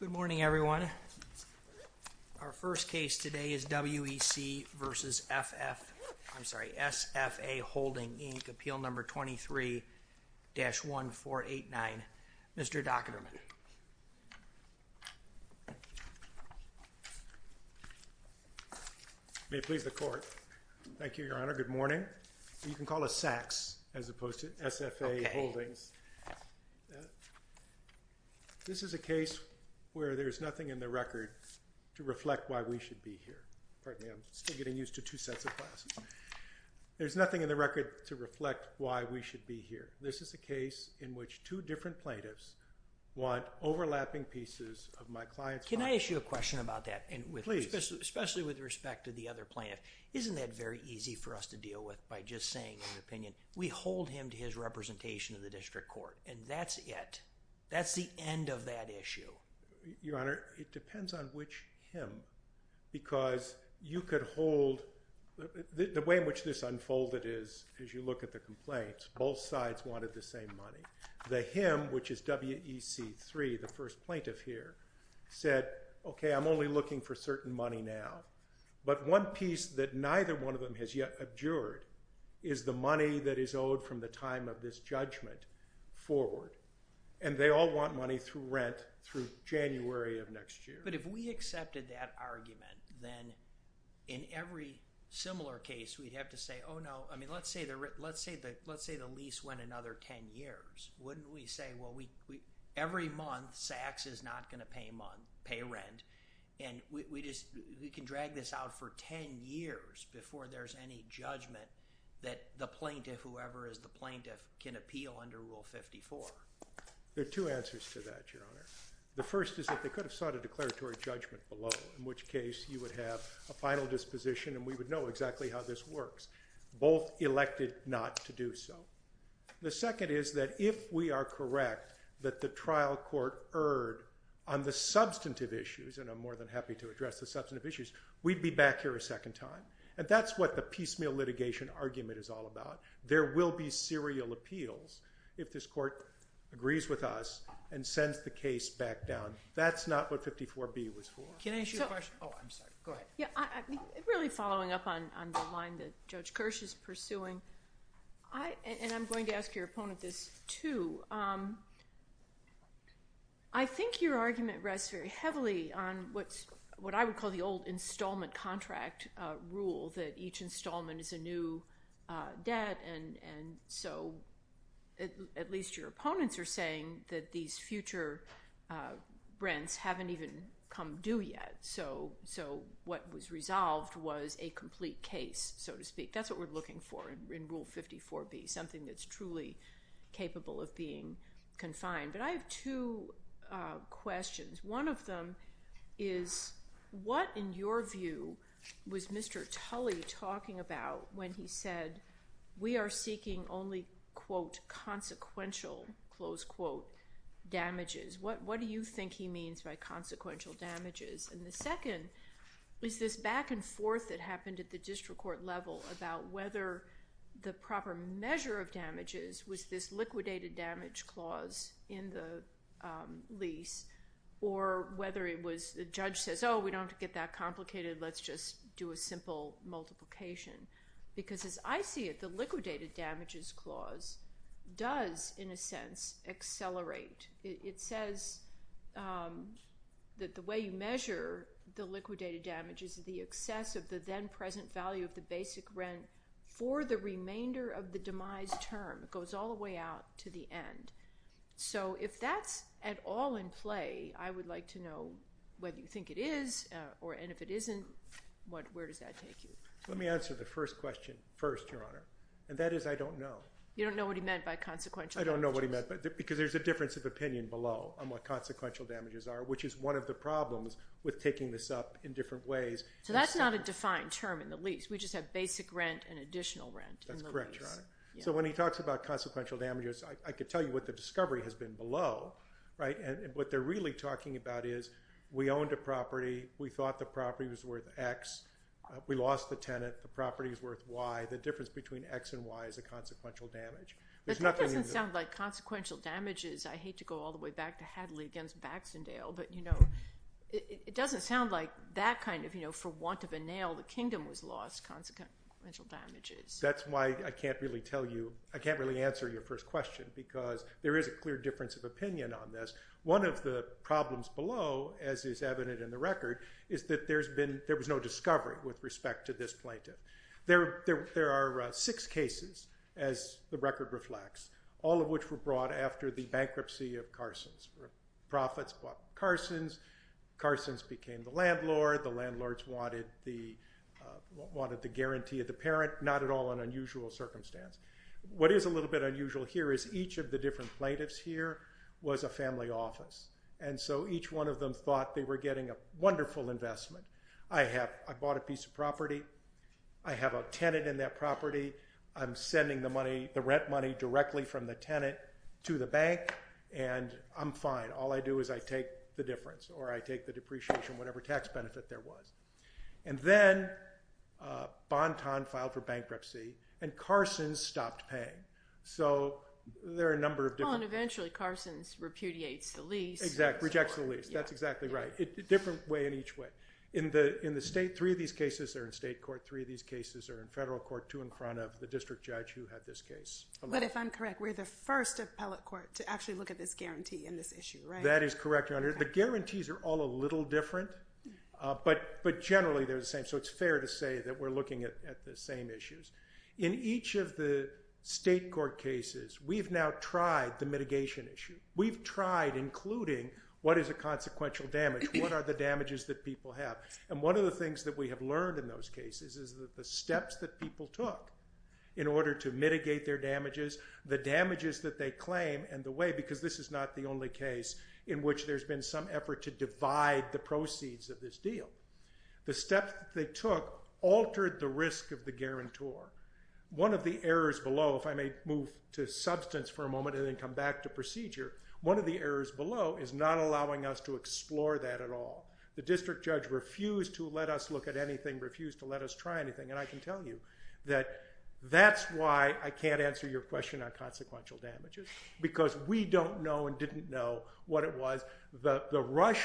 Good morning, everyone. Our first case today is WEC v. SFA Holdings Inc., Appeal No. 23-1489. Mr. Docketerman. May it please the Court. Thank you, Your Honor. Good morning. You can call us SACs as opposed to SFA Holdings. This is a case where there's nothing in the record to reflect why we should be here. Pardon me, I'm still getting used to two sets of glasses. There's nothing in the record to reflect why we should be here. This is a case in which two different plaintiffs want overlapping pieces of my client's property. Can I ask you a question about that? Please. Especially with respect to the other plaintiff. Isn't that very easy for us to deal with by just saying in an opinion, we hold him to his representation in the district court, and that's it? That's the end of that issue? Your Honor, it depends on which him, because you could hold... the way in which this unfolded is, as you look at the complaints, both sides wanted the same money. The him, which is WEC-3, the first plaintiff here, said, okay, I'm only looking for certain money now. But one piece that neither one of them has yet abjured is the money that is owed from the time of this judgment forward. And they all want money through rent through January of next year. But if we accepted that argument, then in every similar case, we'd have to say, oh no, I mean, let's say the lease went another 10 years, wouldn't we say, well, every month Saks is not going to pay rent, and we can drag this out for 10 years before there's any judgment that the plaintiff, whoever is the plaintiff, can appeal under Rule 54? There are two answers to that, Your Honor. The first is that they could have sought a declaratory judgment below, in which case you would have a final disposition and we would know exactly how this works. Both elected not to do so. The second is that if we are correct that the trial court erred on the substantive issues, and I'm more than happy to address the substantive issues, we'd be back here a second time. And that's what the piecemeal litigation argument is all about. There will be serial appeals if this court agrees with us and sends the case back down. That's not what 54B was for. Can I ask you a question? Oh, I'm sorry. Go ahead. Yeah, really following up on the line that Judge Kirsch is pursuing, and I'm going to ask your opponent this, too. I think your argument rests very heavily on what I would call the old installment contract rule that each installment is a new debt, and so at least your opponents are saying that these future rents haven't even come due yet. So what was resolved was a complete case, so to speak. That's what we're looking for in Rule 54B, something that's truly capable of being confined. But I have two questions. One of them is what, in your view, was Mr. Tully talking about when he said we are seeking only quote consequential, close quote, damages? What do you think he means by consequential damages? And the second is this back and forth that happened at the district court level about whether the proper measure of damages was this liquidated damage clause in the lease or whether it was the judge says, oh, we don't have to get that complicated. Let's just do a simple multiplication. Because as I see it, the liquidated damages clause does, in a sense, accelerate. It says that the way you measure the liquidated damages is the excess of the then present value of the basic rent for the remainder of the demise term. It goes all the way out to the end. So if that's at all in play, I would like to know whether you think it is, and if it isn't, where does that take you? Let me answer the first question first, Your Honor, and that is I don't know. You don't know what he meant by consequential damages? I don't know what he meant, because there's a difference of opinion below on what consequential damages are, which is one of the problems with taking this up in different ways. So that's not a defined term in the lease. We just have basic rent and additional rent in the lease. That's correct, Your Honor. So when he talks about consequential damages, I could tell you what the discovery has been below. Right? And what they're really talking about is we owned a property. We thought the property was worth x. We lost the tenant. The property is worth y. The difference between x and y is a consequential damage. But that doesn't sound like consequential damages. I hate to go all the way back to Hadley against Baxendale, but it doesn't sound like that kind of, for want of a nail, the kingdom was lost, consequential damages. That's why I can't really tell you, I can't really answer your first question, because there is a clear difference of opinion on this. One of the problems below, as is evident in the record, is that there was no discovery with respect to this plaintiff. There are six cases, as the record reflects, all of which were brought after the bankruptcy of Carson's. Profits bought Carson's. Carson's became the landlord. The landlords wanted the guarantee of the parent. Not at all an unusual circumstance. What is a little bit unusual here is each of the different plaintiffs here was a family office. And so each one of them thought they were getting a wonderful investment. I bought a piece of property. I have a tenant in that property. I'm sending the rent money directly from the tenant to the bank, and I'm fine. All I do is I take the difference, or I take the depreciation, whatever tax benefit there was. And then, Bonton filed for bankruptcy, and Carson's stopped paying. So there are a number of different- And eventually, Carson's repudiates the lease. Exactly. Rejects the lease. That's exactly right. A different way in each way. In the state, three of these cases are in state court. Three of these cases are in federal court, two in front of the district judge who had this case. But if I'm correct, we're the first appellate court to actually look at this guarantee in this issue, right? That is correct, Your Honor. The guarantees are all a little different, but generally, they're the same. So it's fair to say that we're looking at the same issues. In each of the state court cases, we've now tried the mitigation issue. We've tried including what is a consequential damage, what are the damages that people have. And one of the things that we have learned in those cases is that the steps that people took in order to mitigate their damages, the damages that they claim, and the way- Because this is not the only case in which there's been some effort to divide the proceeds of this deal. The steps that they took altered the risk of the guarantor. One of the errors below, if I may move to substance for a moment and then come back to procedure, one of the errors below is not allowing us to explore that at all. The district judge refused to let us look at anything, refused to let us try anything. And I can tell you that that's why I can't answer your question on consequential damages, because we don't know and didn't know what it was. The rush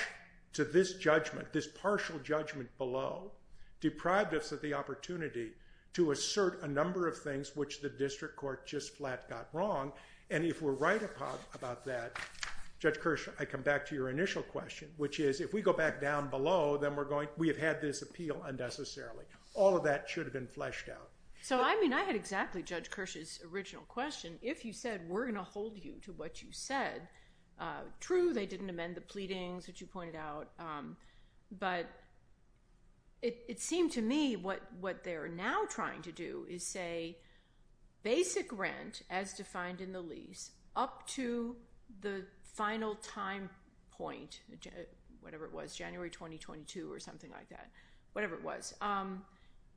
to this judgment, this partial judgment below, deprived us of the opportunity to assert a number of things which the district court just flat got wrong. And if we're right about that, Judge Kirsch, I come back to your initial question, which is if we go back down below, then we have had this appeal unnecessarily. All of that should have been fleshed out. So I mean, I had exactly Judge Kirsch's original question. If you said we're going to hold you to what you said, true, they didn't amend the pleadings that you pointed out, but it seemed to me what they're now trying to do is say basic rent as defined in the lease up to the final time point, whatever it was, January 2022 or something like that, whatever it was,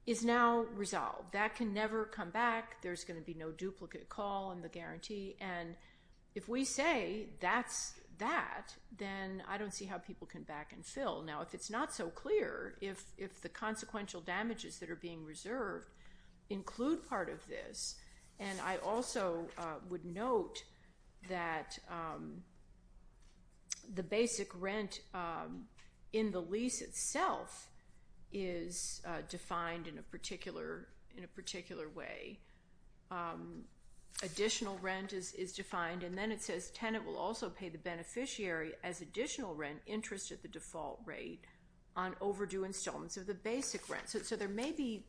is now resolved. That can never come back. There's going to be no duplicate call in the guarantee. And if we say that's that, then I don't see how people can back and fill. Now, if it's not so clear, if the consequential damages that are being reserved include part of this, and I also would note that the basic rent in the lease itself is defined in a particular way, additional rent is defined, and then it says tenant will also pay the beneficiary as additional rent interest at the default rate on overdue installments of the basic rent. So there may be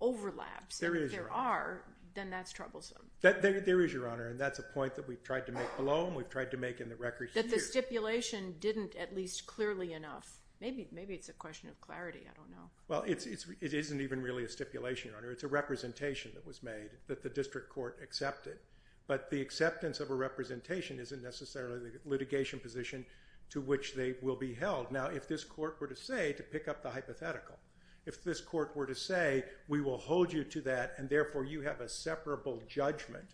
overlaps. There is. But if there are, then that's troublesome. There is, Your Honor. And that's a point that we've tried to make below and we've tried to make in the records too. That the stipulation didn't at least clearly enough, maybe it's a question of clarity, I don't know. Well, it isn't even really a stipulation, Your Honor. It's a representation that was made that the district court accepted. But the acceptance of a representation isn't necessarily the litigation position to which they will be held. Now, if this court were to say, to pick up the hypothetical, if this court were to say, we will hold you to that and therefore you have a separable judgment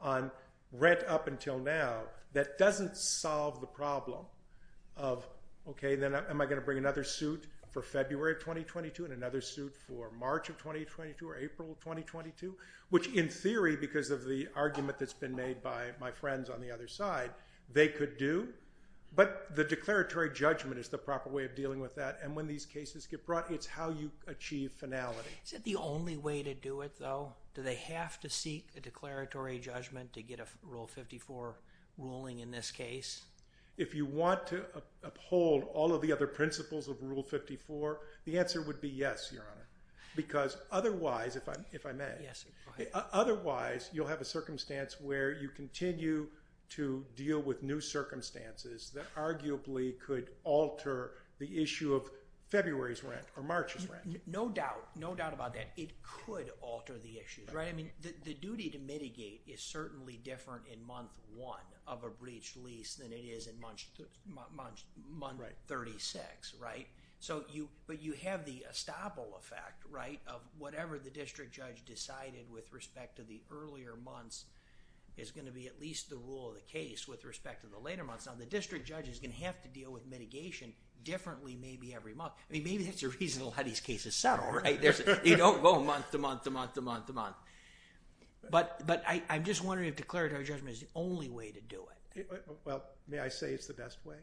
on rent up until now, that doesn't solve the problem of, okay, then am I going to bring another suit for February of 2022 and another suit for March of 2022 or April of 2022, which in theory, because of the argument that's been made by my friends on the other side, they could do. But the declaratory judgment is the proper way of dealing with that. And when these cases get brought, it's how you achieve finality. Is that the only way to do it though? Do they have to seek a declaratory judgment to get a Rule 54 ruling in this case? If you want to uphold all of the other principles of Rule 54, the answer would be yes, Your Honor. Because otherwise, if I may, otherwise, you'll have a circumstance where you continue to February's rent or March's rent. No doubt. No doubt about that. It could alter the issues. Right? I mean, the duty to mitigate is certainly different in month one of a breach lease than it is in month 36, right? So you, but you have the estoppel effect, right, of whatever the district judge decided with respect to the earlier months is going to be at least the rule of the case with respect to the later months. Now, the district judge is going to have to deal with mitigation differently maybe every month. I mean, maybe that's a reason a lot of these cases settle, right? You don't go month to month to month to month to month. But I'm just wondering if declaratory judgment is the only way to do it. Well, may I say it's the best way?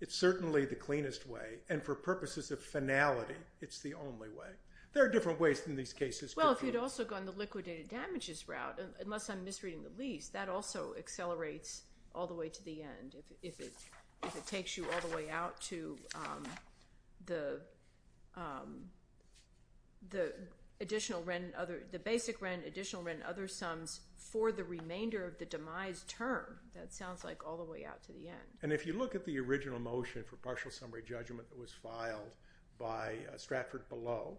It's certainly the cleanest way. And for purposes of finality, it's the only way. There are different ways in these cases. Well, if you'd also gone the liquidated damages route, unless I'm misreading the lease, that also accelerates all the way to the end if it takes you all the way out to the additional rent, the basic rent, additional rent, other sums for the remainder of the demise term. That sounds like all the way out to the end. And if you look at the original motion for partial summary judgment that was filed by Stratford Below,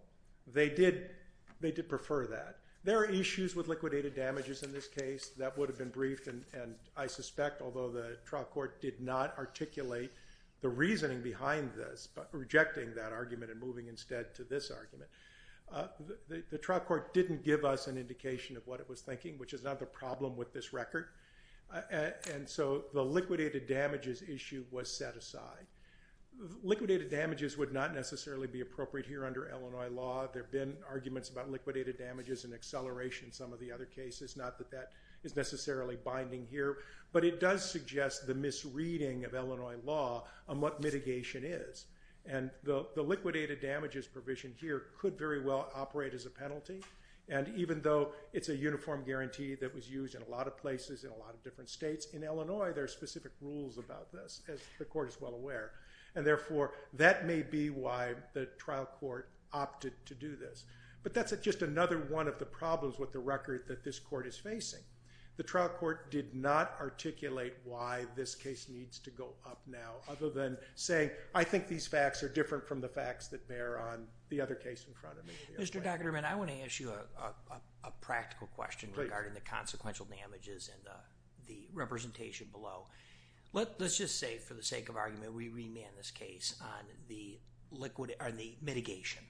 they did prefer that. There are issues with liquidated damages in this case. That would have been briefed, and I suspect, although the trial court did not articulate the reasoning behind this, rejecting that argument and moving instead to this argument, the trial court didn't give us an indication of what it was thinking, which is not the problem with this record. And so the liquidated damages issue was set aside. Liquidated damages would not necessarily be appropriate here under Illinois law. There have been arguments about liquidated damages and acceleration in some of the other cases, not that that is necessarily binding here. But it does suggest the misreading of Illinois law on what mitigation is. And the liquidated damages provision here could very well operate as a penalty. And even though it's a uniform guarantee that was used in a lot of places in a lot of different states, in Illinois, there are specific rules about this, as the court is well aware. And therefore, that may be why the trial court opted to do this. But that's just another one of the problems with the record that this court is facing. The trial court did not articulate why this case needs to go up now, other than saying, I think these facts are different from the facts that bear on the other case in front of me. Mr. Dockterman, I want to ask you a practical question regarding the consequential damages and the representation below. Let's just say, for the sake of argument, we remand this case on the mitigation.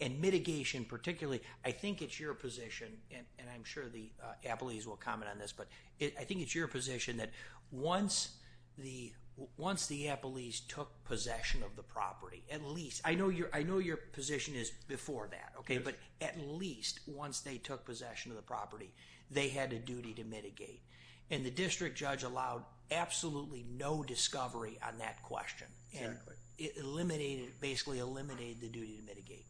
And mitigation, particularly, I think it's your position, and I'm sure the appellees will comment on this, but I think it's your position that once the appellees took possession of the property, at least, I know your position is before that, but at least, once they took possession of the property, they had a duty to mitigate. And the district judge allowed absolutely no discovery on that question, and basically eliminated the duty to mitigate.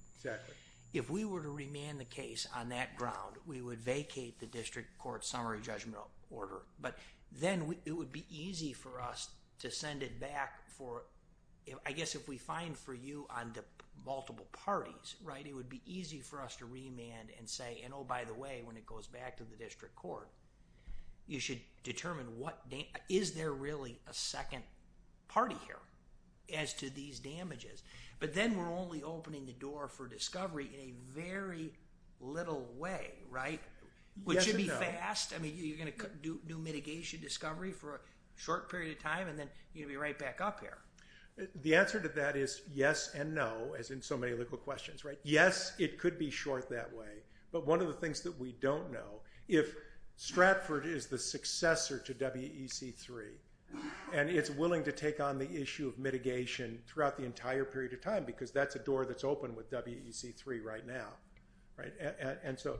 If we were to remand the case on that ground, we would vacate the district court summary judgment order, but then it would be easy for us to send it back for, I guess if we find for you on the multiple parties, it would be easy for us to remand and say, and oh, by the way, when it goes back to the district court, you should determine is there really a second party here as to these damages? But then we're only opening the door for discovery in a very little way, right? Which should be fast, I mean, you're going to do new mitigation discovery for a short period of time, and then you're going to be right back up here. The answer to that is yes and no, as in so many legal questions, right? Yes, it could be short that way, but one of the things that we don't know, if Stratford is the successor to WEC3, and it's willing to take on the issue of mitigation throughout the entire period of time, because that's a door that's open with WEC3 right now, right? And so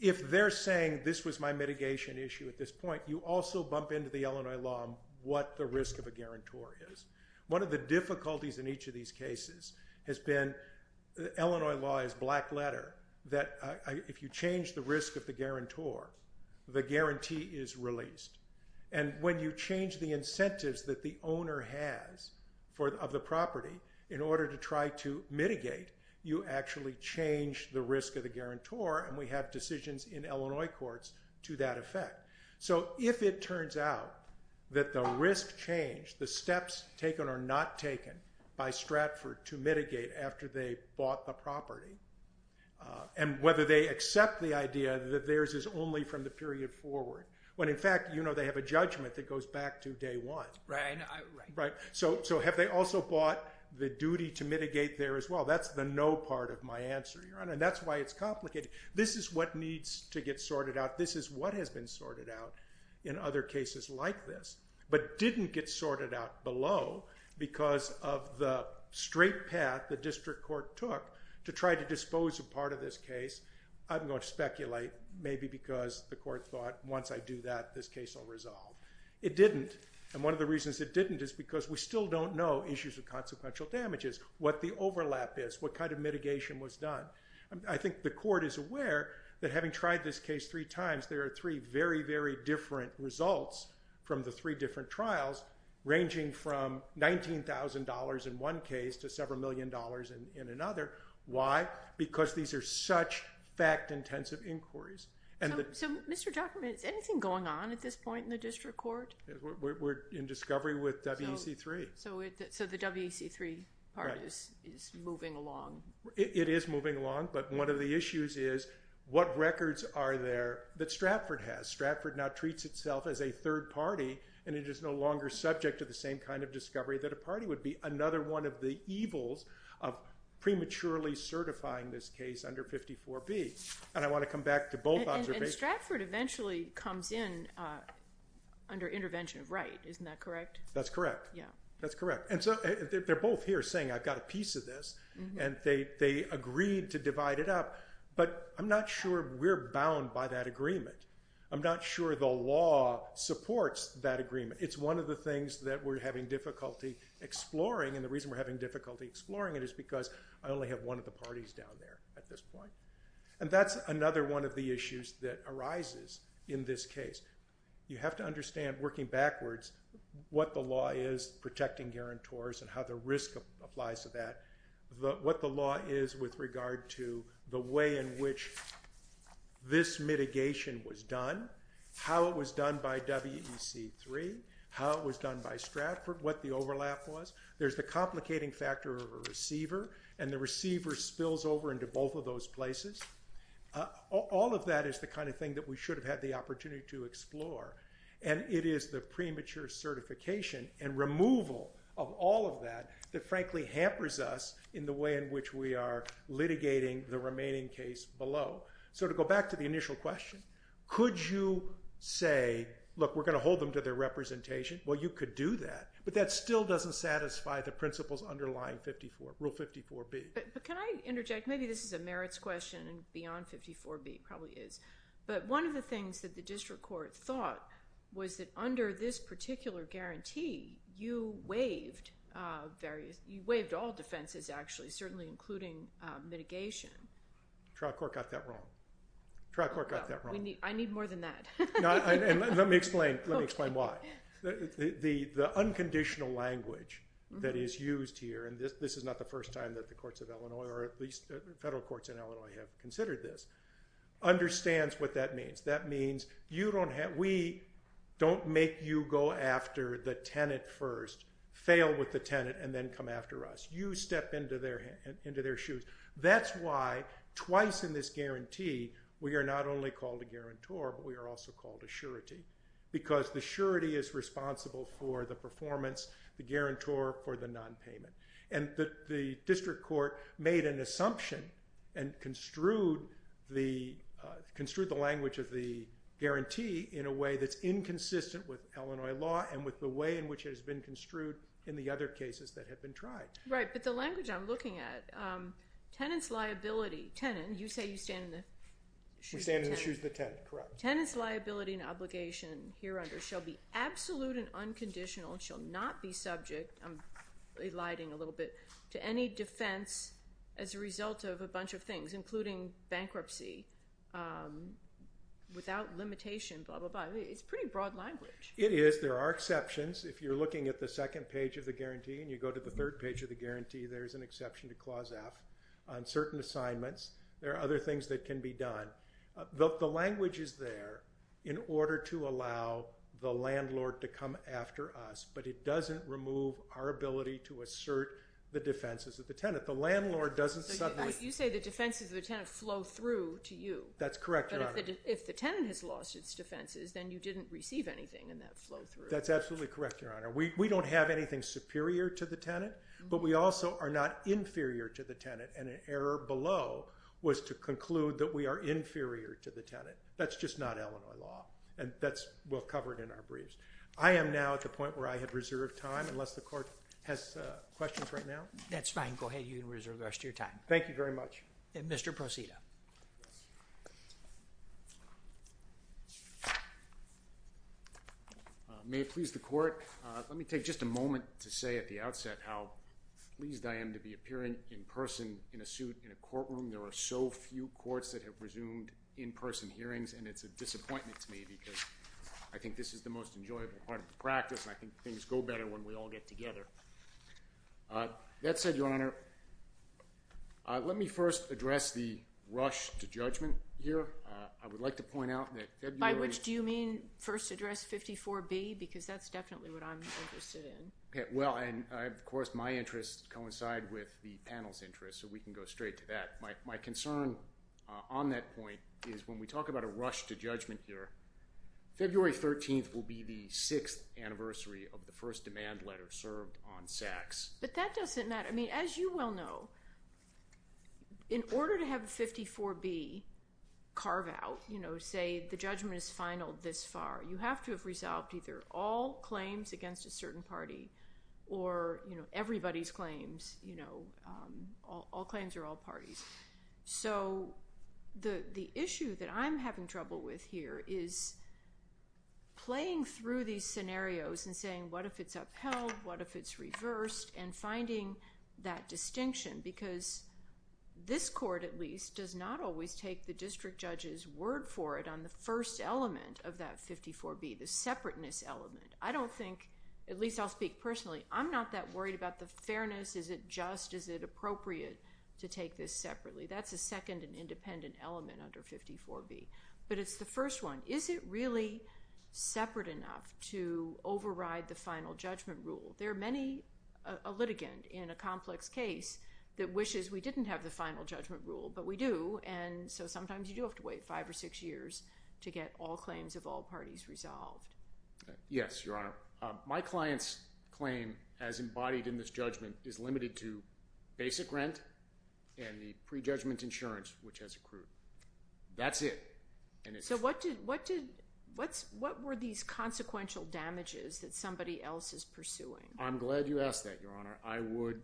if they're saying this was my mitigation issue at this point, you also bump into the Illinois law on what the risk of a guarantor is. One of the difficulties in each of these cases has been Illinois law's black letter, that if you change the risk of the guarantor, the guarantee is released. And when you change the incentives that the owner has of the property in order to try to mitigate, you actually change the risk of the guarantor, and we have decisions in Illinois courts to that effect. So if it turns out that the risk change, the steps taken or not taken by Stratford to mitigate after they bought the property, and whether they accept the idea that theirs is only from the period forward, when in fact, you know, they have a judgment that goes back to day one. Right. Right. So have they also bought the duty to mitigate there as well? That's the no part of my answer, and that's why it's complicated. This is what needs to get sorted out. This is what has been sorted out in other cases like this, but didn't get sorted out below because of the straight path the district court took to try to dispose a part of this case. I'm going to speculate maybe because the court thought, once I do that, this case will resolve. It didn't, and one of the reasons it didn't is because we still don't know issues of consequential damages, what the overlap is, what kind of mitigation was done. I think the court is aware that having tried this case three times, there are three very, very different results from the three different trials, ranging from $19,000 in one case to several million dollars in another. Why? Because these are such fact-intensive inquiries. So, Mr. Dockerman, is anything going on at this point in the district court? We're in discovery with WEC-3. So the WEC-3 part is moving along. It is moving along, but one of the issues is what records are there that Stratford has? Stratford now treats itself as a third party, and it is no longer subject to the same kind of discovery that a party would be another one of the evils of prematurely certifying this case under 54B, and I want to come back to both observations. And Stratford eventually comes in under intervention of Wright, isn't that correct? That's correct. Yeah. That's correct. They're both here saying, I've got a piece of this, and they agreed to divide it up, but I'm not sure we're bound by that agreement. I'm not sure the law supports that agreement. It's one of the things that we're having difficulty exploring, and the reason we're having difficulty exploring it is because I only have one of the parties down there at this point. And that's another one of the issues that arises in this case. You have to understand, working backwards, what the law is protecting guarantors and how the risk applies to that, what the law is with regard to the way in which this mitigation was done, how it was done by WEC3, how it was done by Stratford, what the overlap was. There's the complicating factor of a receiver, and the receiver spills over into both of those places. All of that is the kind of thing that we should have had the opportunity to explore, and it is the premature certification and removal of all of that that frankly hampers us in the way in which we are litigating the remaining case below. So to go back to the initial question, could you say, look, we're going to hold them to their representation? Well, you could do that, but that still doesn't satisfy the principles underlying Rule 54B. But can I interject? Maybe this is a merits question and beyond 54B probably is, but one of the things that the district court thought was that under this particular guarantee, you waived all defenses actually, certainly including mitigation. Trial court got that wrong. Trial court got that wrong. I need more than that. Let me explain. Let me explain why. The unconditional language that is used here, and this is not the first time that the courts of Illinois, or at least federal courts in Illinois have considered this, understands what that means. That means we don't make you go after the tenant first, fail with the tenant, and then come after us. You step into their shoes. That's why twice in this guarantee, we are not only called a guarantor, but we are also called a surety, because the surety is responsible for the performance, the guarantor for the nonpayment. And the district court made an assumption and construed the language of the guarantee in a way that's inconsistent with Illinois law and with the way in which it has been construed in the other cases that have been tried. Right. But the language I'm looking at, tenant's liability, tenant, you say you stand in the shoes of the tenant. We stand in the shoes of the tenant, correct. Tenant's liability and obligation here under shall be absolute and unconditional and shall not be subject, I'm eliding a little bit, to any defense as a result of a bunch of things, including bankruptcy, without limitation, blah, blah, blah. It's pretty broad language. It is. There are exceptions. If you're looking at the second page of the guarantee and you go to the third page of the guarantee, there's an exception to Clause F on certain assignments. There are other things that can be done. The language is there in order to allow the landlord to come after us, but it doesn't remove our ability to assert the defenses of the tenant. The landlord doesn't suddenly- So you say the defenses of the tenant flow through to you. That's correct, Your Honor. But if the tenant has lost its defenses, then you didn't receive anything in that flow through. That's absolutely correct, Your Honor. We don't have anything superior to the tenant, but we also are not inferior to the tenant, and an error below was to conclude that we are inferior to the tenant. That's just not Illinois law, and that's well covered in our briefs. I am now at the point where I have reserved time, unless the court has questions right now. That's fine. Go ahead. You can reserve the rest of your time. Thank you very much. Mr. Proceda. May it please the court, let me take just a moment to say at the outset how pleased I am to be appearing in person in a suit in a courtroom. There are so few courts that have resumed in-person hearings, and it's a disappointment to me because I think this is the most enjoyable part of the practice, and I think things go better when we all get together. That said, Your Honor, let me first address the rush to judgment here. I would like to point out that February— By which do you mean first address 54B? Because that's definitely what I'm interested in. Okay. Well, and of course my interests coincide with the panel's interests, so we can go straight to that. My concern on that point is when we talk about a rush to judgment here, February 13th will be the sixth anniversary of the first demand letter served on Saks. But that doesn't matter. I mean, as you well know, in order to have 54B carve out, you know, say the judgment is final this far, you have to have resolved either all claims against a certain party or, you know, everybody's claims, you know, all claims are all parties. So the issue that I'm having trouble with here is playing through these scenarios and saying what if it's upheld, what if it's reversed, and finding that distinction. Because this court, at least, does not always take the district judge's word for it on the first element of that 54B, the separateness element. I don't think—at least I'll speak personally—I'm not that worried about the fairness. Is it just? Is it appropriate to take this separately? That's a second and independent element under 54B, but it's the first one. Is it really separate enough to override the final judgment rule? There are many—a litigant in a complex case that wishes we didn't have the final judgment rule, but we do, and so sometimes you do have to wait five or six years to get all claims of all parties resolved. Yes, Your Honor. My client's claim, as embodied in this judgment, is limited to basic rent and the pre-judgment insurance, which has accrued. That's it. So what did—what did—what were these consequential damages that somebody else is pursuing? I'm glad you asked that, Your Honor. I would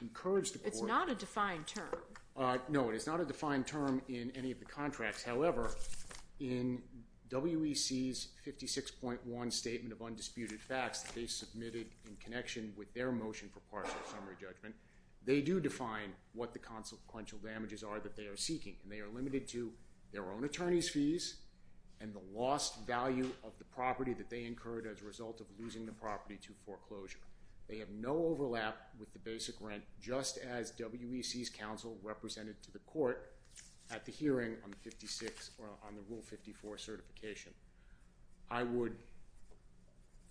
encourage the court— It's not a defined term. No, it is not a defined term in any of the contracts. However, in WEC's 56.1 Statement of Undisputed Facts that they submitted in connection with their motion for partial summary judgment, they do define what the consequential damages are that they are seeking, and they are limited to their own attorney's fees and the lost value of the property that they incurred as a result of losing the property to foreclosure. They have no overlap with the basic rent, just as WEC's counsel represented to the court at the hearing on the 56—or on the Rule 54 certification. I would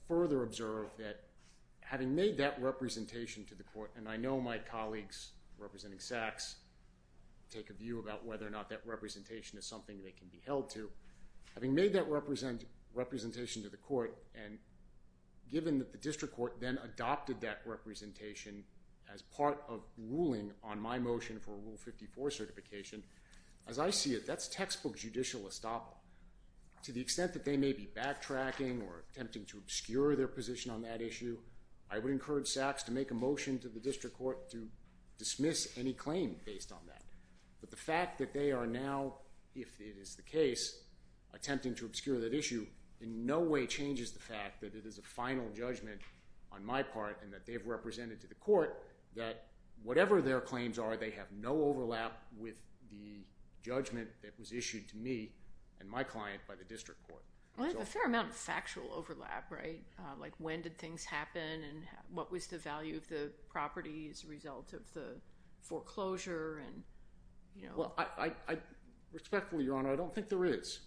further observe that, having made that representation to the court—and I know my colleagues, representing Sachs, take a view about whether or not that representation is something they can be held to—having made that representation to the court, and given that the district court then adopted that representation as part of ruling on my Rule 54 certification, as I see it, that's textbook judicial estoppel. To the extent that they may be backtracking or attempting to obscure their position on that issue, I would encourage Sachs to make a motion to the district court to dismiss any claim based on that. But the fact that they are now, if it is the case, attempting to obscure that issue in no way changes the fact that it is a final judgment on my part, and that they've represented to the court that whatever their claims are, they have no overlap with the judgment that was issued to me and my client by the district court. Well, there's a fair amount of factual overlap, right? Like when did things happen and what was the value of the property as a result of the foreclosure and, you know— Well, I—respectfully, Your Honor, I don't think there is.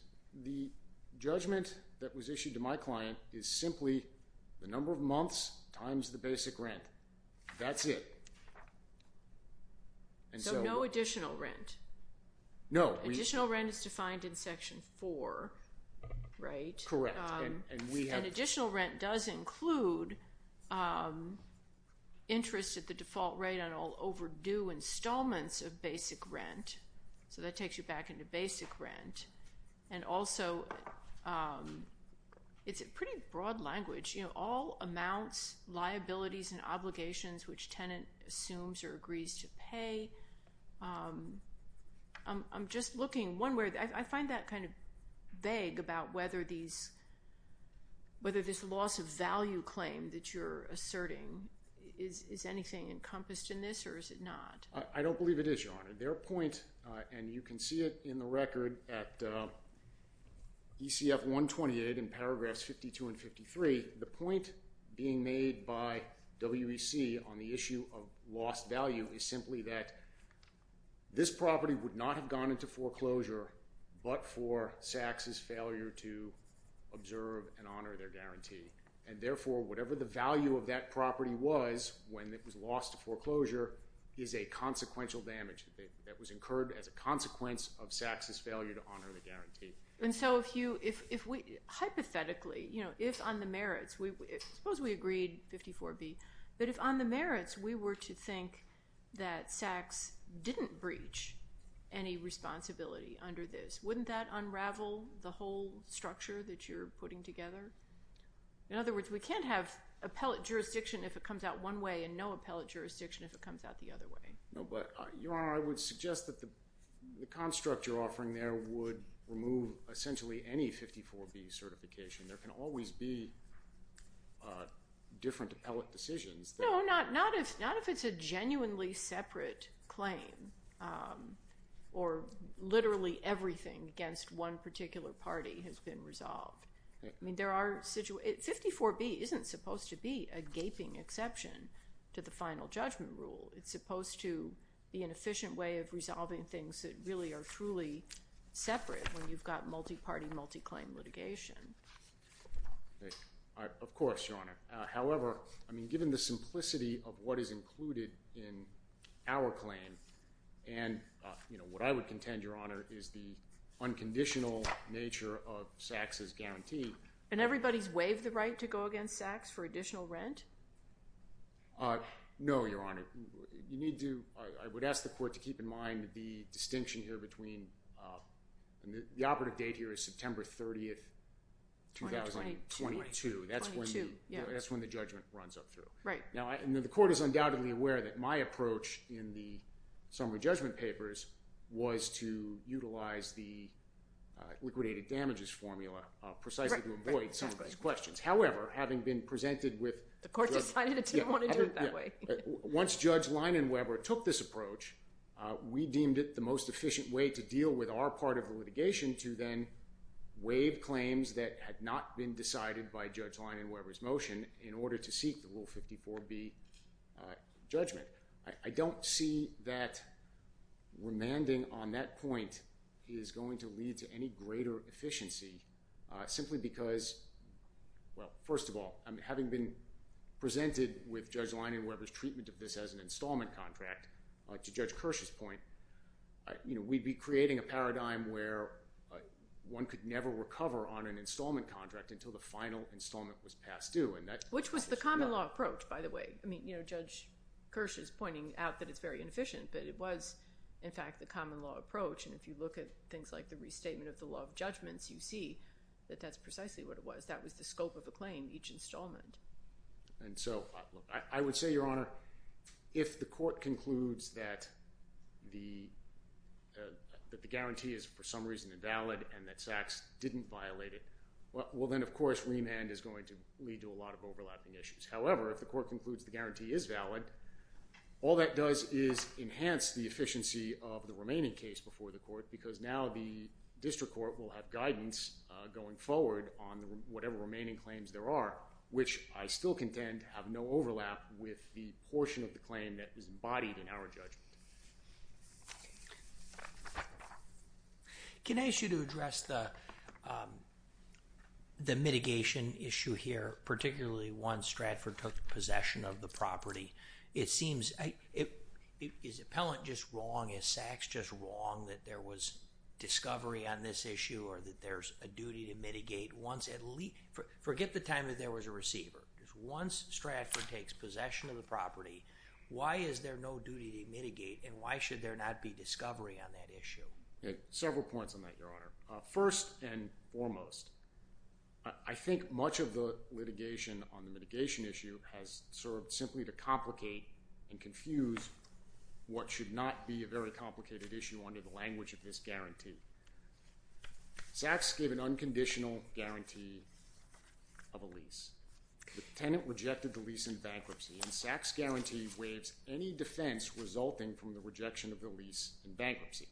The judgment that was issued to my client is simply the number of months times the basic rent. That's it. And so— So no additional rent? No. Additional rent is defined in Section 4, right? Correct. And we have— And additional rent does include interest at the default rate on all overdue installments of basic rent, so that takes you back into basic rent. And also, it's a pretty broad language, you know, all amounts, liabilities, and obligations which tenant assumes or agrees to pay. I'm just looking one way—I find that kind of vague about whether these—whether this loss of value claim that you're asserting, is anything encompassed in this or is it not? Your Honor, their point—and you can see it in the record at ECF 128 in paragraphs 52 and 53—the point being made by WEC on the issue of lost value is simply that this property would not have gone into foreclosure but for Sachs's failure to observe and honor their guarantee. And therefore, whatever the value of that property was when it was lost to foreclosure is a consequential damage that was incurred as a consequence of Sachs's failure to honor the guarantee. And so if you—hypothetically, you know, if on the merits—suppose we agreed, 54B—but if on the merits we were to think that Sachs didn't breach any responsibility under this, wouldn't that unravel the whole structure that you're putting together? In other words, we can't have appellate jurisdiction if it comes out one way and no appellate jurisdiction if it comes out the other way. No, but, Your Honor, I would suggest that the construct you're offering there would remove essentially any 54B certification. There can always be different appellate decisions. No, not if it's a genuinely separate claim or literally everything against one particular party has been resolved. I mean, there are—54B isn't supposed to be a gaping exception to the final judgment rule. It's supposed to be an efficient way of resolving things that really are truly separate when you've got multi-party, multi-claim litigation. Of course, Your Honor. However, I mean, given the simplicity of what is included in our claim and, you know, what I would contend, Your Honor, is the unconditional nature of Sachs' guarantee— And everybody's waived the right to go against Sachs for additional rent? No, Your Honor. You need to—I would ask the court to keep in mind the distinction here between—the operative date here is September 30, 2022. That's when the judgment runs up through. Right. Now, the court is undoubtedly aware that my approach in the summary judgment papers was to utilize the liquidated damages formula precisely to avoid some of these questions. However, having been presented with— The court decided it didn't want to do it that way. Once Judge Leinenweber took this approach, we deemed it the most efficient way to deal with our part of the litigation to then waive claims that had not been decided by Judge Leinenweber's Article 54B judgment. I don't see that remanding on that point is going to lead to any greater efficiency simply because—well, first of all, having been presented with Judge Leinenweber's treatment of this as an installment contract, to Judge Kirsch's point, you know, we'd be creating a paradigm where one could never recover on an installment contract until the final installment was passed due. Which was the common law approach, by the way. I mean, you know, Judge Kirsch is pointing out that it's very inefficient, but it was in fact the common law approach. And if you look at things like the restatement of the law of judgments, you see that that's precisely what it was. That was the scope of a claim, each installment. And so, I would say, Your Honor, if the court concludes that the guarantee is for some reason invalid and that Sachs didn't violate it, well then, of course, remand is going to lead to a lot of overlapping issues. However, if the court concludes the guarantee is valid, all that does is enhance the efficiency of the remaining case before the court because now the district court will have guidance going forward on whatever remaining claims there are, which I still contend have no overlap with the portion of the claim that is embodied in our judgment. Can I ask you to address the mitigation issue here, particularly once Stratford took possession of the property? It seems, is Appellant just wrong, is Sachs just wrong that there was discovery on this issue or that there's a duty to mitigate once at least, forget the time that there was a receiver. Just once Stratford takes possession of the property, why is there no duty to mitigate and why should there not be discovery on that issue? Several points on that, Your Honor. First and foremost, I think much of the litigation on the mitigation issue has served simply to complicate and confuse what should not be a very complicated issue under the language of this guarantee. Sachs gave an unconditional guarantee of a lease. The tenant rejected the lease in bankruptcy and Sachs' guarantee waives any defense resulting from the rejection of the lease in bankruptcy.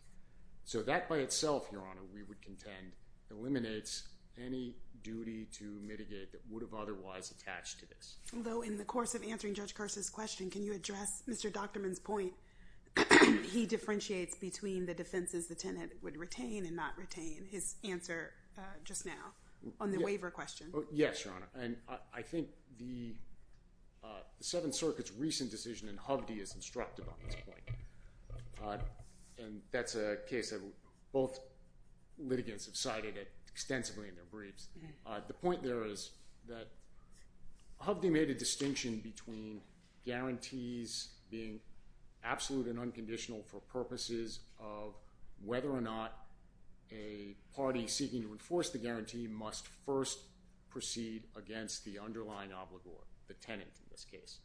So that by itself, Your Honor, we would contend eliminates any duty to mitigate that would have otherwise attached to this. Although in the course of answering Judge Carson's question, can you address Mr. Dockterman's point, he differentiates between the defenses the tenant would retain and not retain, his answer just now on the waiver question. Yes, Your Honor. And I think the Seventh Circuit's recent decision in Hovde is instructive on this point. And that's a case that both litigants have cited extensively in their briefs. The point there is that Hovde made a distinction between guarantees being absolute and unconditional for purposes of whether or not a party seeking to enforce the guarantee must first proceed against the underlying obligor, the tenant in this case.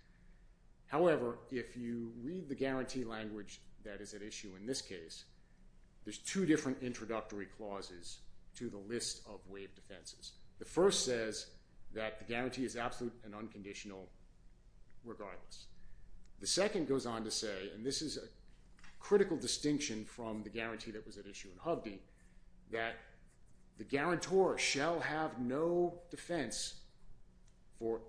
However, if you read the guarantee language that is at issue in this case, there's two different introductory clauses to the list of waived defenses. The first says that the guarantee is absolute and unconditional regardless. The second goes on to say, and this is a critical distinction from the guarantee that was at issue in Hovde, that the guarantor shall have no defense for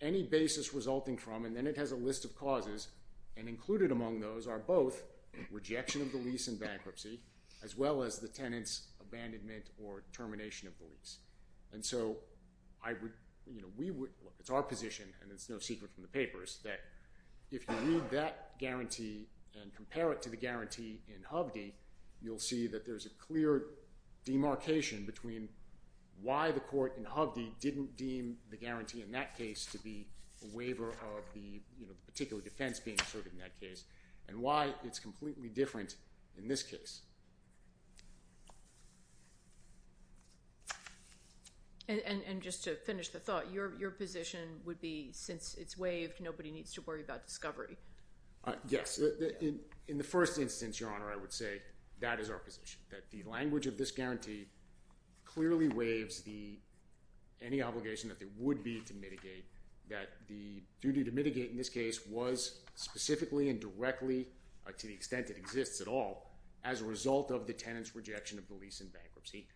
any basis resulting from, and then it has a list of causes, and included among those are both rejection of the lease and bankruptcy, as well as the tenant's abandonment or termination of the lease. It's our position, and it's no secret from the papers, that if you read that guarantee and compare it to the guarantee in Hovde, you'll see that there's a clear demarcation between why the court in Hovde didn't deem the guarantee in that case to be a waiver of the particular defense being asserted in that case, and why it's completely different in this case. And just to finish the thought, your position would be, since it's waived, nobody needs to worry about discovery? Yes. In the first instance, Your Honor, I would say that is our position, that the language of this guarantee clearly waives the, any obligation that there would be to mitigate that the duty to mitigate in this case was specifically and directly, to the extent it exists at all, as a result of the tenant's rejection of the lease and bankruptcy.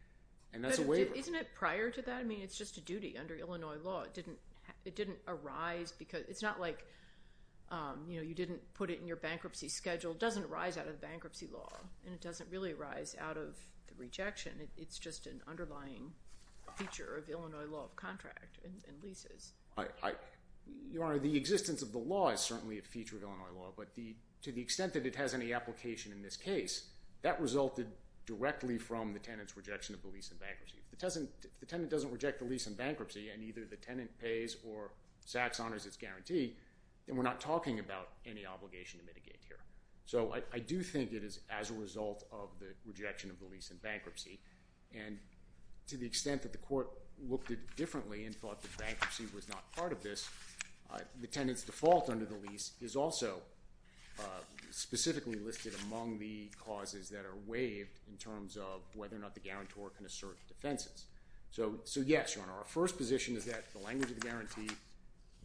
And that's a waiver. But isn't it prior to that? I mean, it's just a duty under Illinois law. It didn't arise because, it's not like, you know, you didn't put it in your bankruptcy schedule. It doesn't arise out of bankruptcy law, and it doesn't really arise out of the rejection. It's just an underlying feature of Illinois law of contract and leases. Your Honor, the existence of the law is certainly a feature of Illinois law. But to the extent that it has any application in this case, that resulted directly from the tenant's rejection of the lease and bankruptcy. If the tenant doesn't reject the lease and bankruptcy, and either the tenant pays or SACS honors its guarantee, then we're not talking about any obligation to mitigate here. So I do think it is as a result of the rejection of the lease and bankruptcy. And to the extent that the court looked at it differently and thought that bankruptcy was not part of this, the tenant's default under the lease is also specifically listed among the causes that are waived in terms of whether or not the guarantor can assert defenses. So yes, Your Honor, our first position is that the language of the guarantee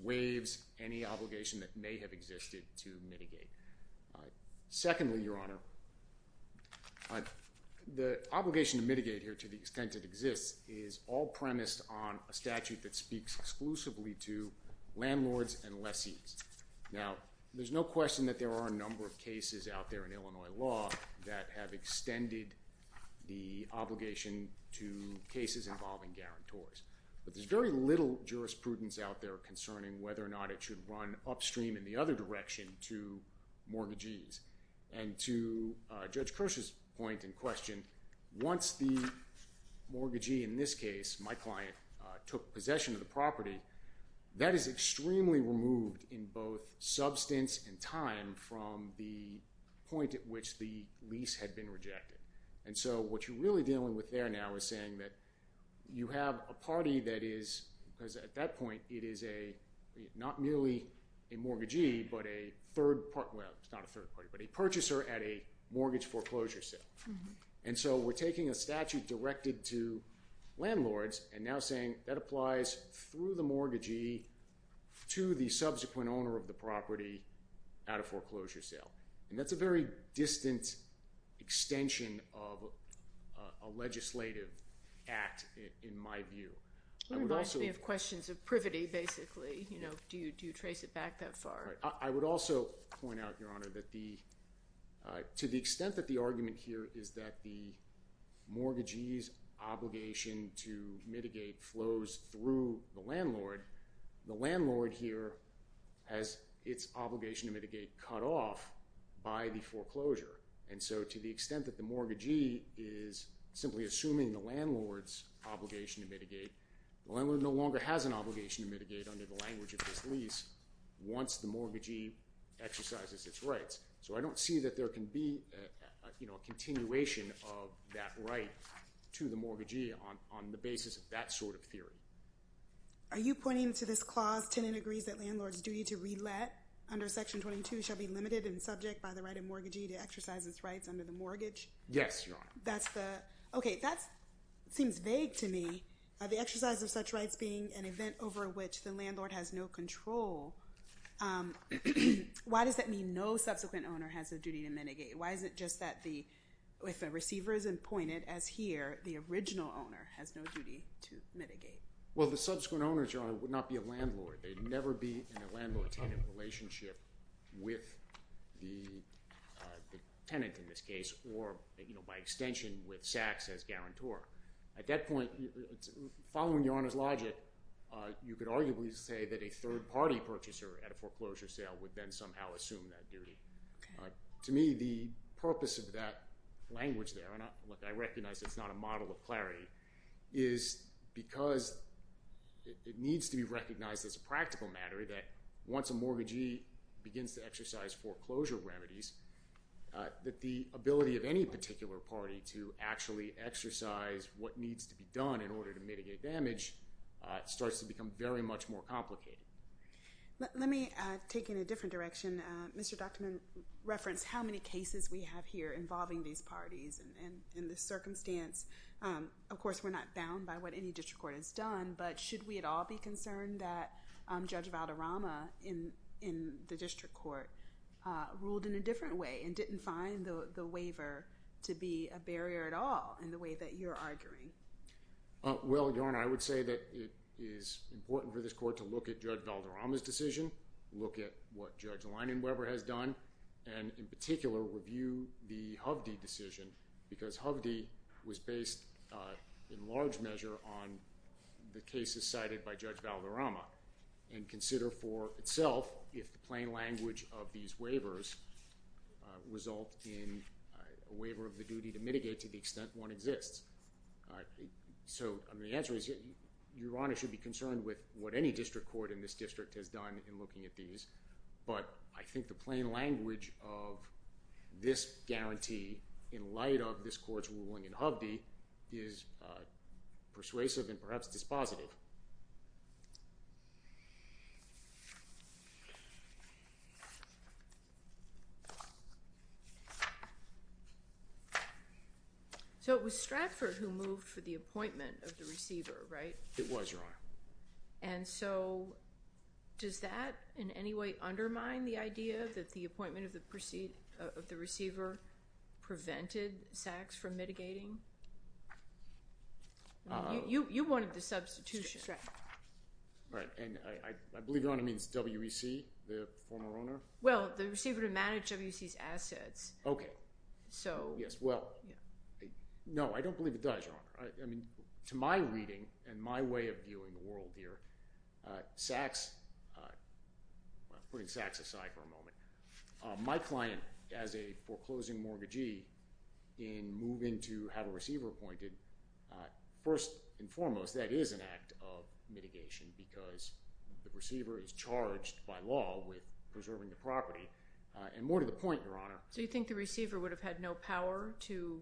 waives any obligation that may have existed to mitigate. Secondly, Your Honor, the obligation to mitigate here, to the extent it exists, is all premised on a statute that speaks exclusively to landlords and lessees. Now, there's no question that there are a number of cases out there in Illinois law that have extended the obligation to cases involving guarantors. But there's very little jurisprudence out there concerning whether or not it should run upstream in the other direction to mortgagees. And to Judge Kirsch's point and question, once the mortgagee, in this case my client, took possession of the property, that is extremely removed in both substance and time from the point at which the lease had been rejected. And so what you're really dealing with there now is saying that you have a party that is, because at that point it is a, not merely a mortgagee, but a third party, well it's not a third party, but a purchaser at a mortgage foreclosure sale. And so we're taking a statute directed to landlords and now saying that applies through the mortgagee to the subsequent owner of the property at a foreclosure sale. And that's a very distant extension of a legislative act in my view. It reminds me of questions of privity, basically. Do you trace it back that far? I would also point out, Your Honor, that to the extent that the argument here is that the mortgagee's obligation to mitigate flows through the landlord, the landlord here has its obligation to mitigate cut off by the foreclosure. And so to the extent that the mortgagee is simply assuming the landlord's obligation to mitigate, the landlord no longer has an obligation to mitigate under the language of this lease once the mortgagee exercises its rights. So I don't see that there can be a continuation of that right to the mortgagee on the basis of that sort of theory. Are you pointing to this clause, tenant agrees that landlord's duty to re-let under Section 22 shall be limited and subject by the right of mortgagee to exercise its rights under the mortgage? Yes, Your Honor. Okay, that seems vague to me. The exercise of such rights being an event over which the landlord has no control. Why does that mean no subsequent owner has a duty to mitigate? Why is it just that if a receiver is appointed, as here, the original owner has no duty to mitigate? Well, the subsequent owner, Your Honor, would not be a landlord. They'd never be in a landlord-tenant relationship with the tenant, in this case, or by extension with Sachs as guarantor. At that point, following Your Honor's logic, you could arguably say that a third-party purchaser at a foreclosure sale would then somehow assume that duty. To me, the purpose of that language there, and I recognize it's not a model of clarity, is because it needs to be recognized as a practical matter that once a mortgagee begins to exercise foreclosure remedies, that the ability of any particular party to actually exercise what needs to be done in order to mitigate damage starts to become very much more complicated. Let me take it in a different direction. Mr. Duchtman referenced how many cases we have here involving these parties and the circumstance. Of course, we're not bound by what any district court has done, but should we at all be concerned that Judge Valderrama in the district court ruled in a different way and didn't find the waiver to be a barrier at all in the way that you're arguing? Well, Your Honor, I would say that it is important for this court to look at Judge Valderrama's decision, look at what Judge Leinenweber has done, and in particular, review the Hovde decision, because Hovde was based in large measure on the cases cited by Judge Valderrama and consider for itself if the plain language of these waivers result in a waiver of the duty to mitigate to the extent one exists. So, the answer is Your Honor should be concerned with what any district court in this district has done in looking at these, but I think the plain language of this guarantee in light of this court's ruling in Hovde is persuasive and perhaps dispositive. So, it was Stratford who moved for the appointment of the receiver, right? It was, Your Honor. And so, does that in any way undermine the idea that the appointment of the receiver prevented Sachs from mitigating? You wanted the substitution. Right, and I believe Your Honor means WEC, the former owner? Well, the receiver to manage WEC's assets. Okay. So... To my reading and my way of viewing the world here, Sachs, putting Sachs aside for a moment, my client as a foreclosing mortgagee in moving to have a receiver appointed, first and foremost that is an act of mitigation because the receiver is charged by law with preserving the property and more to the point, Your Honor. So, you think the receiver would have had no power to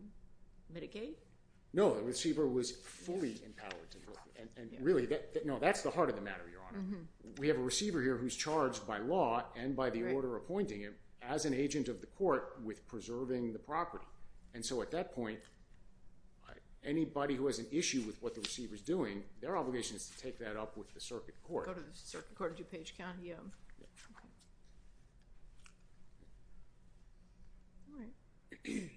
mitigate? No, the receiver was fully empowered to do it. And really, that's the heart of the matter, Your Honor. We have a receiver here who's charged by law and by the order appointing him as an agent of the court with preserving the property. And so, at that point, anybody who has an issue with what the receiver's doing, their obligation is to take that up with the circuit court. Go to the Circuit Court of DuPage County, yeah. All right.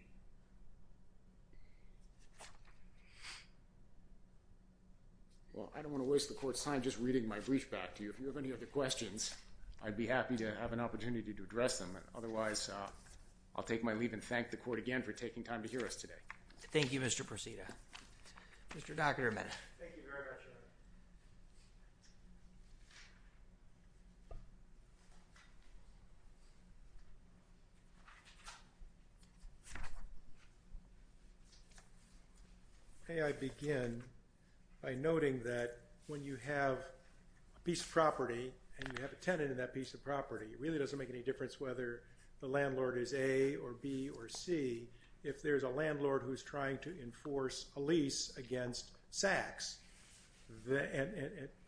Well, I don't want to waste the court's time just reading my brief back to you. If you have any other questions, I'd be happy to have an opportunity to address them. Otherwise, I'll take my leave and thank the court again for taking time to hear us today. Thank you, Mr. Proceda. Mr. Dockterman. Thank you very much, Your Honor. May I begin by noting that when you have a piece of property and you have a tenant in that piece of property, it really doesn't make any difference whether the landlord is A or B or C if there's a landlord who's trying to enforce a lease against Sachs.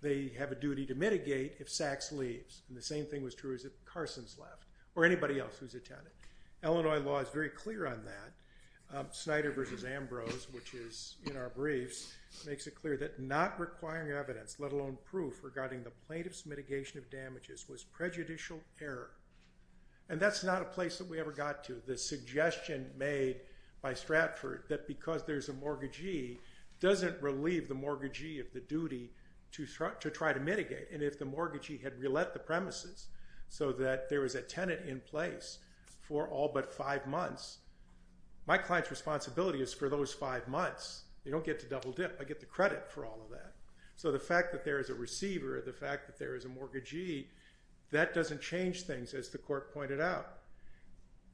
They have a duty to mitigate if Sachs leaves. And the same thing was true as if Carson's left or anybody else who's a tenant. Illinois law is very clear on that. Snyder v. Ambrose, which is in our briefs, makes it clear that not requiring evidence, let alone proof, regarding the plaintiff's mitigation of damages was prejudicial error. And that's not a place that we ever got to. The suggestion made by Stratford that because there's a mortgagee doesn't relieve the mortgagee of the duty to try to mitigate. And if the mortgagee had relet the premises so that there was a tenant in place for all but five months, my client's responsibility is for those five months. They don't get to double dip. I get the credit for all of that. So the fact that there is a receiver, the fact that there is a mortgagee, that doesn't change things as the court pointed out.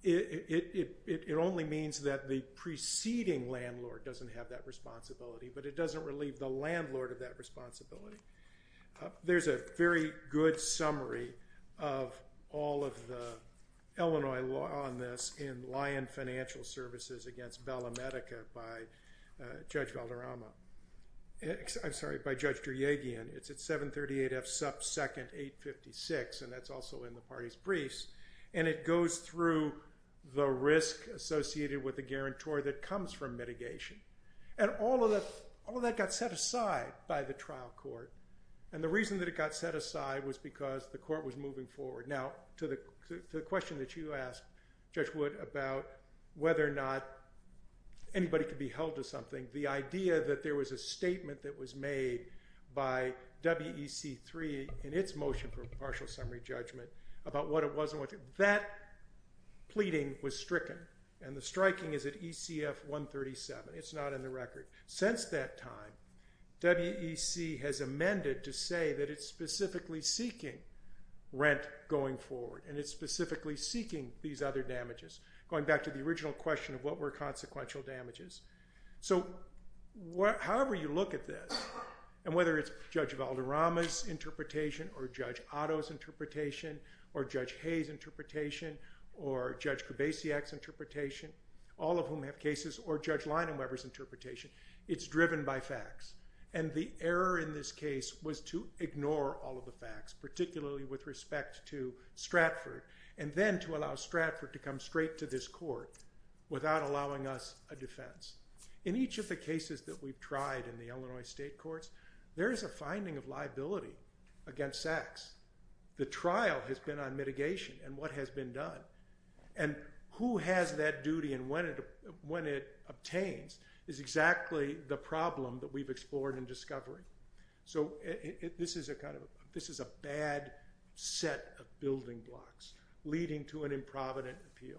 It only means that the preceding landlord doesn't have that responsibility but it doesn't relieve the landlord of that responsibility. There's a very good summary of all of the Illinois law on this in Lyon Financial Services against Bella Medica by Judge Valderrama. I'm sorry, by Judge Duryagian. It's at 738F sub 2nd 856, and that's also in the party's briefs. And it goes through the risk associated with the guarantor that comes from mitigation. And all of that got set aside by the trial court. And the reason that it got set aside was because the court was moving forward. Now, to the question that you asked, Judge Wood, about whether or not anybody could be held to something, the idea that there was a statement that was made by WEC 3 in its motion for partial summary judgment about what it was. That pleading was stricken, and the striking is at ECF 137. It's not in the record. Since that time, WEC has amended to say that it's specifically seeking rent going forward. And it's specifically seeking these other damages, going back to the original question of what were consequential damages. So however you look at this, and whether it's Judge Valderrama's interpretation or Judge Otto's interpretation or Judge Hayes' interpretation or Judge Kubasiak's interpretation, all of whom have cases, or Judge Leinenweber's interpretation, it's driven by facts. And the error in this case was to ignore all of the facts, particularly with respect to Stratford, and then to allow Stratford to come straight to this court without allowing us a defense. In each of the cases that we've tried in the Illinois state courts, there is a finding of liability against sex. The trial has been on mitigation and what has been done. And who has that duty and when it obtains is exactly the problem that we've explored and discovered. So this is a bad set of building blocks leading to an improvident appeal.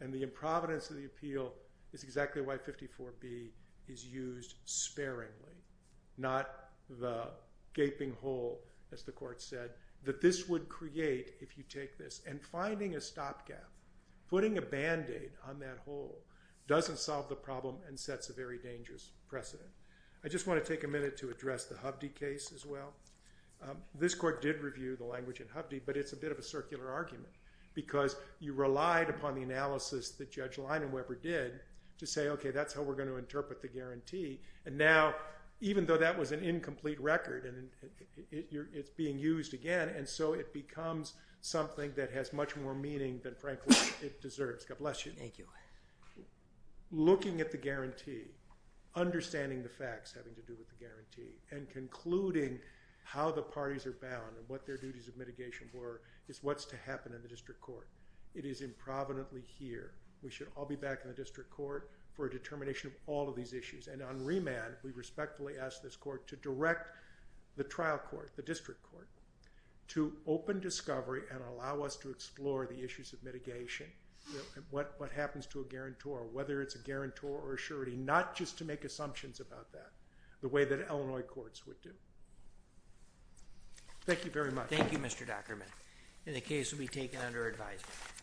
And the improvidence of the appeal is exactly why 54B is used sparingly, not the gaping hole, as the court said, that this would create if you take this. And finding a stopgap, putting a Band-Aid on that hole, doesn't solve the problem and sets a very dangerous precedent. I just want to take a minute to address the Hubde case as well. This court did review the language in Hubde, but it's a bit of a circular argument because you relied upon the analysis that Judge Leinenweber did to say, OK, that's how we're going to interpret the guarantee. And now, even though that was an incomplete record, it's being used again, and so it becomes something that has much more meaning than, frankly, it deserves. God bless you. Thank you. Looking at the guarantee, understanding the facts having to do with the guarantee, and concluding how the parties are bound and what their duties of mitigation were is what's to happen in the district court. It is improvidently here. We should all be back in the district court for a determination of all of these issues. And on remand, we respectfully ask this court to direct the trial court, the district court, to open discovery and allow us to explore the issues of mitigation and what happens to a guarantor, whether it's a guarantor or a surety, not just to make assumptions about that the way that Illinois courts would do. Thank you very much. Thank you, Mr. Dockerman. And the case will be taken under advisement.